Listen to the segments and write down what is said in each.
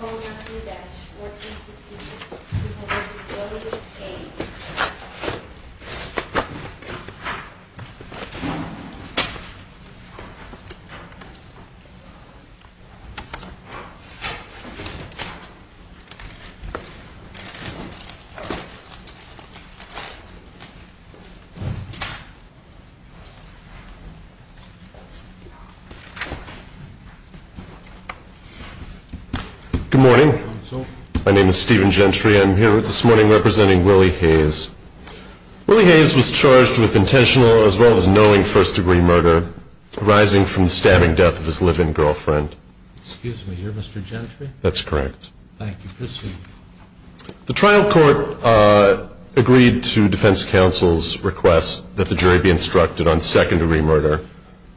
O-Y-U-V-E-X-H-O-U-R-T-E-N-S-E-T-E-A-H-E Good morning, my name is Stephen Gentry. I'm here with this morning representing Willie Hayes Willie Hayes was charged with intentional as well as knowing first-degree murder Arising from the stabbing death of his live-in girlfriend That's correct The trial court agreed to defense counsel's request that the jury be instructed on second-degree murder,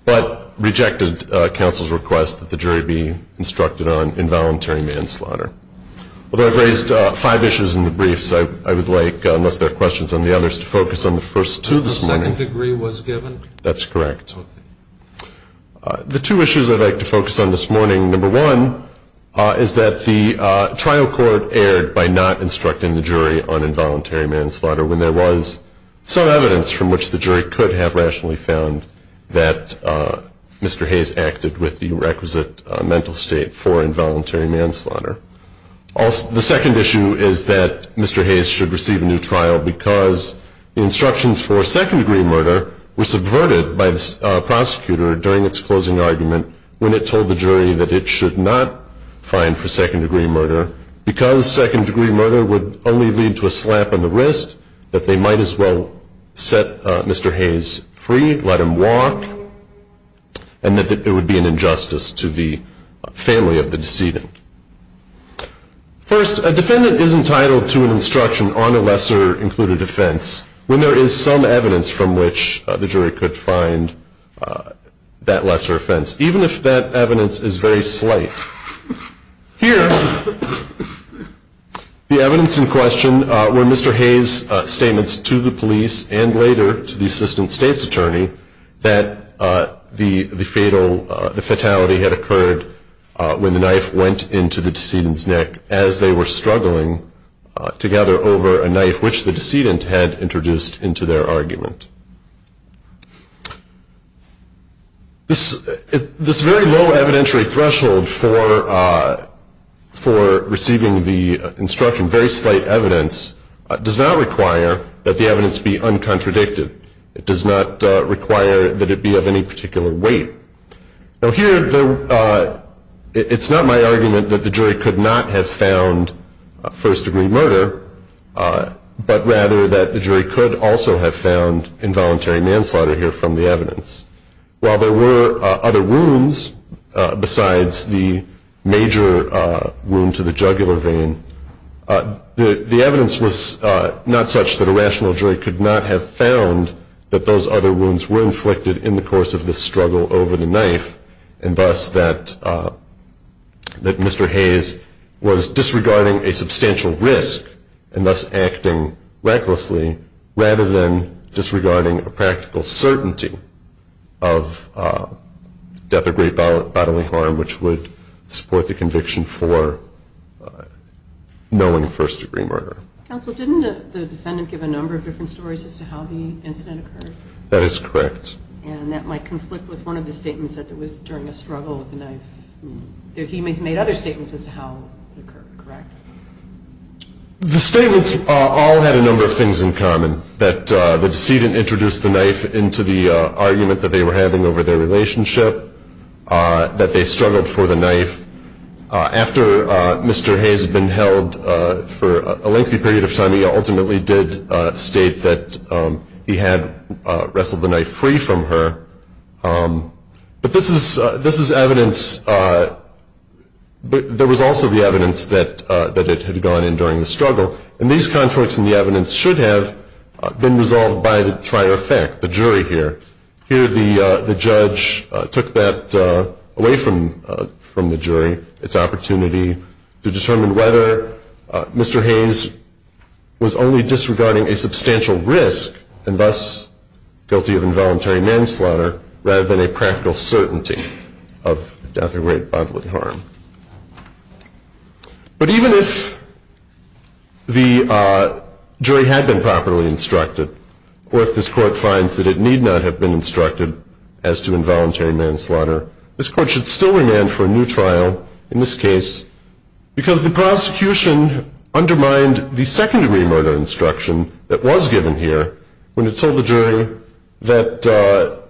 but Rejected counsel's request that the jury be instructed on involuntary manslaughter Although I've raised five issues in the briefs I would like unless there are questions on the others to focus on the first two this morning. The second degree was given? That's correct The two issues I'd like to focus on this morning number one Is that the trial court erred by not instructing the jury on involuntary manslaughter when there was some evidence from which the jury could have rationally found that Mr. Hayes acted with the requisite mental state for involuntary manslaughter Also, the second issue is that Mr. Hayes should receive a new trial because instructions for second-degree murder were subverted by the Prosecutor during its closing argument when it told the jury that it should not Find for second-degree murder because second-degree murder would only lead to a slap on the wrist that they might as well Set Mr. Hayes free let him walk And that it would be an injustice to the family of the decedent First a defendant is entitled to an instruction on a lesser included offense when there is some evidence from which the jury could find That lesser offense even if that evidence is very slight here The evidence in question were Mr. Hayes statements to the police and later to the assistant state's attorney that The the fatal the fatality had occurred when the knife went into the decedent's neck as they were struggling Together over a knife which the decedent had introduced into their argument This this very low evidentiary threshold for For receiving the instruction very slight evidence does not require that the evidence be Uncontradicted it does not require that it be of any particular weight now here It's not my argument that the jury could not have found first-degree murder But rather that the jury could also have found involuntary manslaughter here from the evidence while there were other wounds Besides the major wound to the jugular vein The the evidence was not such that a rational jury could not have found that those other wounds were inflicted in the course of this struggle over the knife and thus that That mr. Hayes was disregarding a substantial risk and thus acting recklessly rather than disregarding a practical certainty of Death or great bodily harm which would support the conviction for Knowing first-degree murder That is correct The statements all had a number of things in common that the decedent introduced the knife into the Relationship That they struggled for the knife after mr. Hayes had been held for a lengthy period of time he ultimately did state that he had wrestled the knife free from her But this is this is evidence But there was also the evidence that that it had gone in during the struggle and these conflicts in the evidence should have Been resolved by the trier effect the jury here here the the judge took that Away from from the jury its opportunity to determine whether Mr. Hayes Was only disregarding a substantial risk and thus guilty of involuntary manslaughter rather than a practical certainty of death or great bodily harm But even if the Jury had been properly instructed Or if this court finds that it need not have been instructed as to involuntary manslaughter This court should still remand for a new trial in this case Because the prosecution Undermined the second-degree murder instruction that was given here when it told the jury that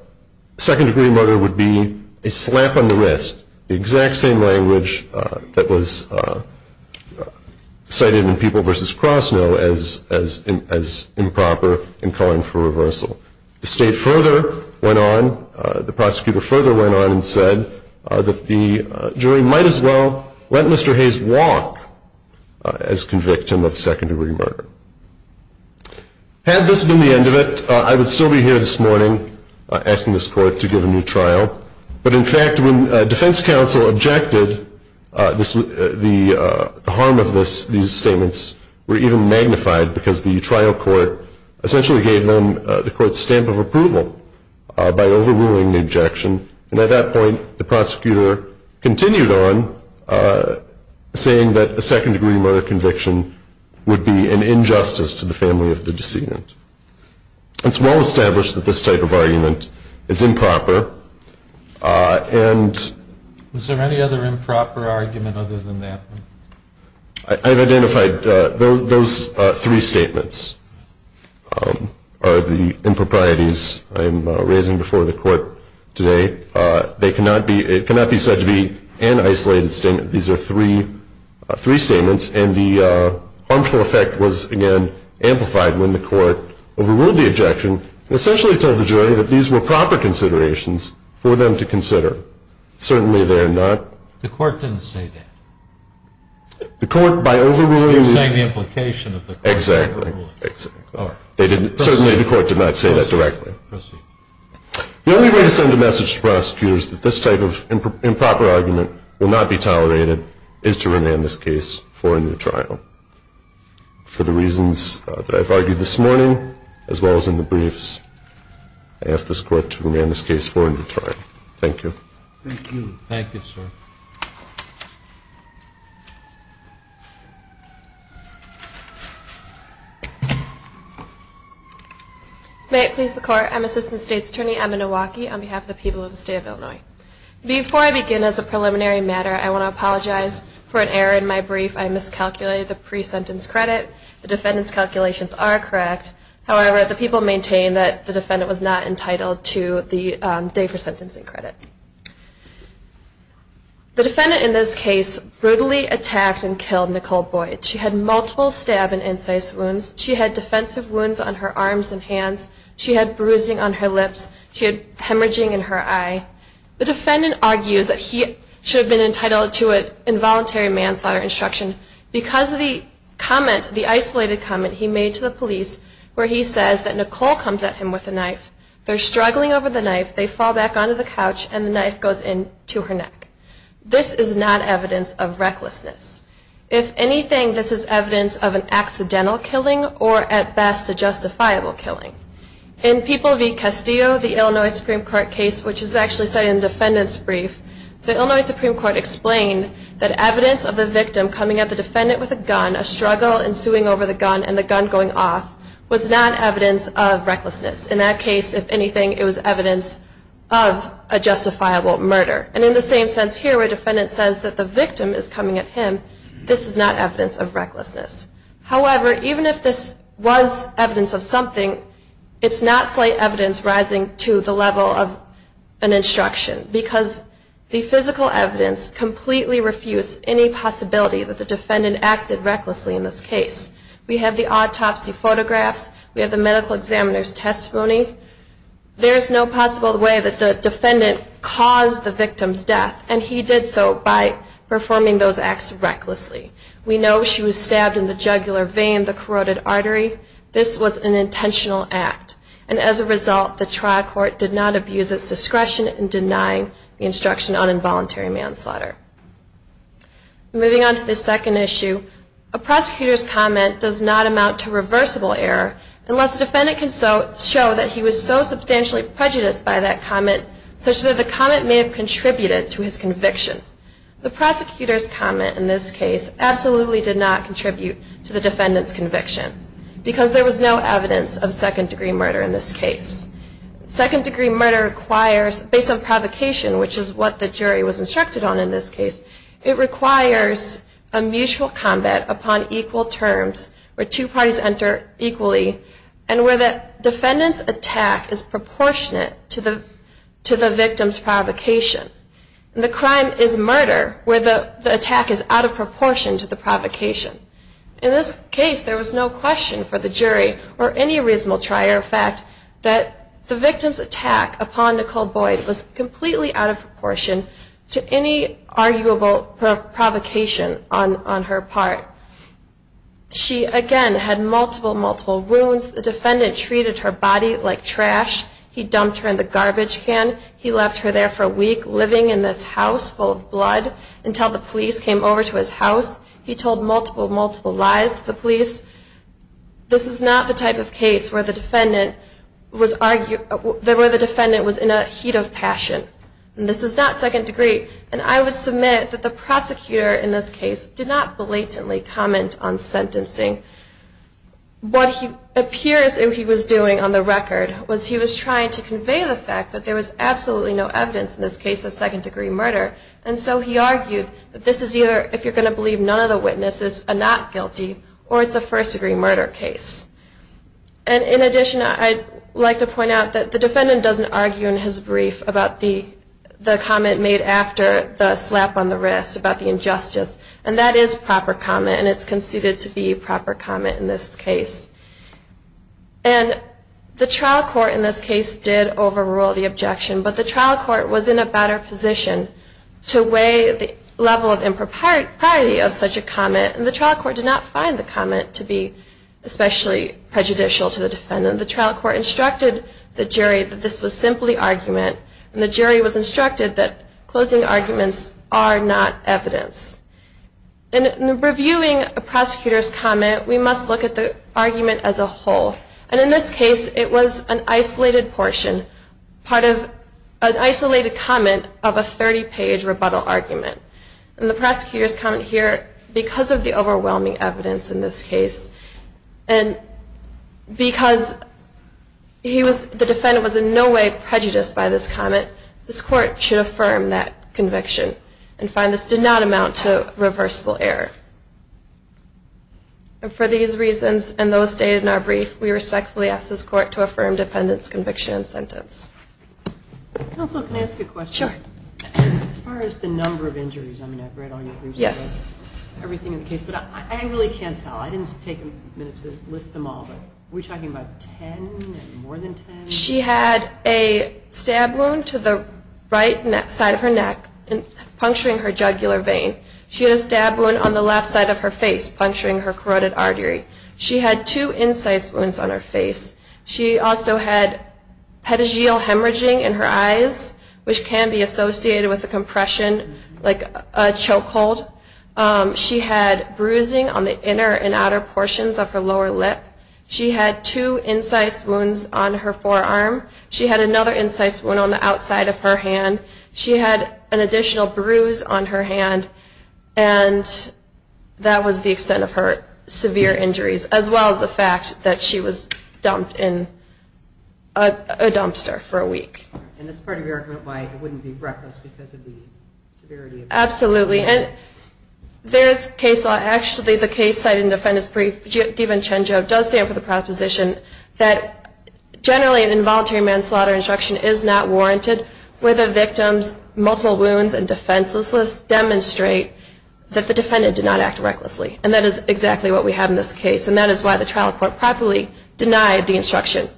Second-degree murder would be a slap on the wrist the exact same language that was Cited in people versus cross no as as in as improper in calling for reversal the state further went on The prosecutor further went on and said that the jury might as well let mr. Hayes walk as convict him of second-degree murder Had this been the end of it I would still be here this morning Asking this court to give a new trial, but in fact when defense counsel objected This was the harm of this these statements were even magnified because the trial court Essentially gave them the court stamp of approval By overruling the objection and at that point the prosecutor continued on Saying that the second-degree murder conviction would be an injustice to the family of the decedent It's well established that this type of argument is improper and Was there any other improper argument other than that I've identified those those three statements Are the improprieties I'm raising before the court today They cannot be it cannot be said to be an isolated statement. These are three three statements and the Harmful effect was again amplified when the court Overruled the objection essentially told the jury that these were proper considerations for them to consider Certainly, they're not the court didn't say that The court by overruling the implication of the exactly They didn't certainly the court did not say that directly The only way to send a message to prosecutors that this type of improper argument will not be tolerated is to remain this case for a new trial For the reasons that I've argued this morning as well as in the briefs Asked this court to remain this case for a new trial. Thank you May it please the court I'm assistant state's attorney Emma Milwaukee on behalf of the people of the state of Illinois Before I begin as a preliminary matter. I want to apologize for an error in my brief I miscalculated the pre-sentence credit the defendants calculations are correct However, the people maintain that the defendant was not entitled to the day for sentencing credit The defendant in this case brutally attacked and killed Nicole Boyd she had multiple stab and incise wounds She had defensive wounds on her arms and hands. She had bruising on her lips She had hemorrhaging in her eye. The defendant argues that he should have been entitled to it involuntary manslaughter instruction Because of the comment the isolated comment he made to the police where he says that Nicole comes at him with a knife They're struggling over the knife. They fall back onto the couch and the knife goes in to her neck this is not evidence of recklessness if anything, this is evidence of an accidental killing or at best a justifiable killing in People v Castillo the Illinois Supreme Court case which is actually cited in defendants brief The Illinois Supreme Court explained that evidence of the victim coming at the defendant with a gun a struggle and suing over the gun and The gun going off was not evidence of recklessness in that case if anything it was evidence of A justifiable murder and in the same sense here where defendant says that the victim is coming at him This is not evidence of recklessness however, even if this was evidence of something it's not slight evidence rising to the level of an Instruction because the physical evidence completely refutes any possibility that the defendant acted recklessly in this case We have the autopsy photographs. We have the medical examiner's testimony There's no possible way that the defendant caused the victim's death and he did so by Performing those acts recklessly. We know she was stabbed in the jugular vein the corroded artery This was an intentional act and as a result the trial court did not abuse its discretion in denying the instruction on involuntary manslaughter moving on to the second issue a Prosecutor's comment does not amount to reversible error unless the defendant can so show that he was so substantially Prejudiced by that comment such that the comment may have contributed to his conviction The prosecutor's comment in this case absolutely did not contribute to the defendants conviction Because there was no evidence of second-degree murder in this case Second-degree murder requires based on provocation, which is what the jury was instructed on in this case It requires a mutual combat upon equal terms where two parties enter Equally and where that defendants attack is proportionate to the to the victim's provocation The crime is murder where the attack is out of proportion to the provocation in this case There was no question for the jury or any reasonable trier fact that the victim's attack upon Nicole Boyd was completely out of proportion to any arguable provocation on on her part She again had multiple multiple wounds the defendant treated her body like trash. He dumped her in the garbage can He left her there for a week living in this house full of blood until the police came over to his house He told multiple multiple lies the police This is not the type of case where the defendant was argued there were the defendant was in a heat of passion And this is not second-degree and I would submit that the prosecutor in this case did not blatantly comment on sentencing What he appears if he was doing on the record was he was trying to convey the fact that there was absolutely no evidence in Second-degree murder and so he argued that this is either if you're going to believe none of the witnesses are not guilty or it's a first-degree murder case and in addition, I'd like to point out that the defendant doesn't argue in his brief about the comment made after the slap on the wrist about the injustice and that is proper comment and it's conceded to be proper comment in this case and The trial court in this case did overrule the objection But the trial court was in a better position to weigh the level of impropriety of such a comment and the trial court did not find the comment to be Especially prejudicial to the defendant the trial court instructed the jury that this was simply argument and the jury was instructed that Closing arguments are not evidence And Reviewing a prosecutor's comment. We must look at the argument as a whole and in this case It was an isolated portion part of an isolated comment of a 30-page rebuttal argument and the prosecutors comment here because of the overwhelming evidence in this case and Because He was the defendant was in no way prejudiced by this comment This court should affirm that conviction and find this did not amount to reversible error And for these reasons and those stated in our brief we respectfully ask this court to affirm defendants conviction and sentence Yes Everything in the case, but I really can't tell I didn't take a minute to list them all but we're talking about She had a Stab wound to the right side of her neck and puncturing her jugular vein She had a stab wound on the left side of her face puncturing her carotid artery. She had two incise wounds on her face She also had Pedageal hemorrhaging in her eyes Which can be associated with the compression like a choke hold She had bruising on the inner and outer portions of her lower lip. She had two incise wounds on her forearm She had another incise wound on the outside of her hand. She had an additional bruise on her hand and That was the extent of her severe injuries as well as the fact that she was dumped in a Reckless because of the absolutely, and there's case law actually the case cited in defendants brief given change of does stand for the proposition that Generally an involuntary manslaughter instruction is not warranted where the victims multiple wounds and defenseless list demonstrate That the defendant did not act recklessly and that is exactly what we have in this case And that is why the trial court properly denied the instruction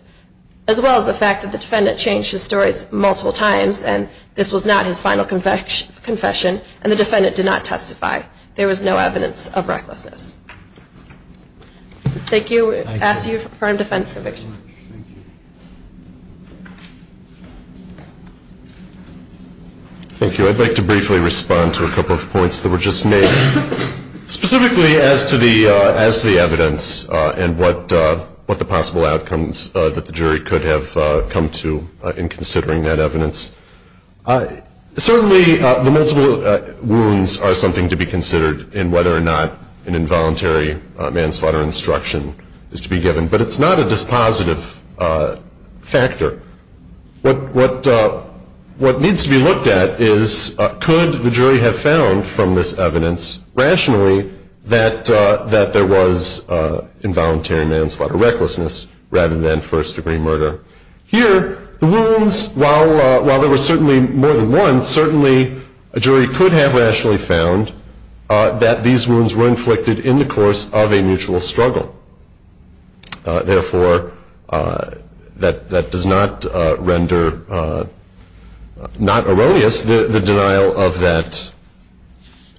as well as the fact that the defendant changed his stories multiple times And this was not his final conviction confession and the defendant did not testify. There was no evidence of recklessness Thank you Thank you, I'd like to briefly respond to a couple of points that were just made specifically as to the as to the evidence and what I Certainly the multiple wounds are something to be considered in whether or not an involuntary Manslaughter instruction is to be given, but it's not a dispositive factor What what? What needs to be looked at is could the jury have found from this evidence rationally that that there was? Involuntary manslaughter recklessness rather than first-degree murder here the wounds while while there were certainly more than one Certainly a jury could have rationally found That these wounds were inflicted in the course of a mutual struggle therefore That that does not render Not erroneous the denial of that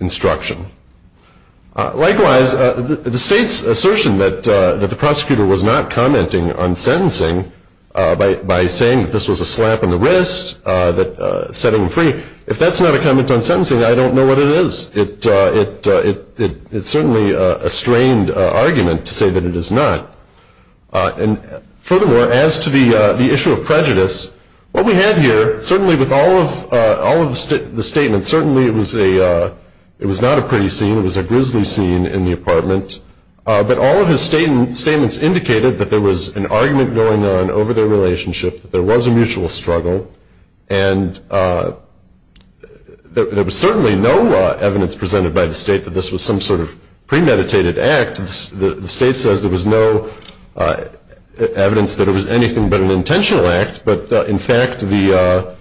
Instruction Likewise the state's assertion that that the prosecutor was not commenting on sentencing By by saying this was a slap on the wrist that set him free if that's not a comment on sentencing I don't know what it is it it it it certainly a strained argument to say that it is not And furthermore as to the the issue of prejudice what we have here certainly with all of all of the statement certainly It was a it was not a pretty scene. It was a grizzly scene in the apartment but all of his statements statements indicated that there was an argument going on over their relationship that there was a mutual struggle and There was certainly no evidence presented by the state that this was some sort of premeditated act the state says there was no Evidence that it was anything but an intentional act, but in fact the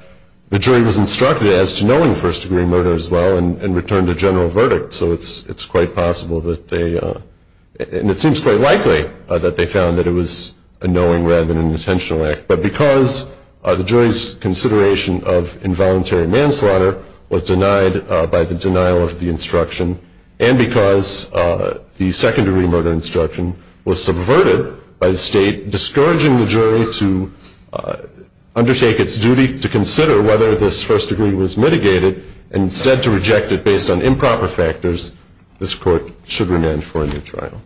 The jury was instructed as to knowing first-degree murder as well and returned a general verdict, so it's it's quite possible that they And it seems quite likely that they found that it was a knowing rather than an intentional act but because the jury's consideration of involuntary manslaughter was denied by the denial of the instruction and because the secondary murder instruction was subverted by the state discouraging the jury to Consider whether this first degree was mitigated and instead to reject it based on improper factors This court should remain for a new trial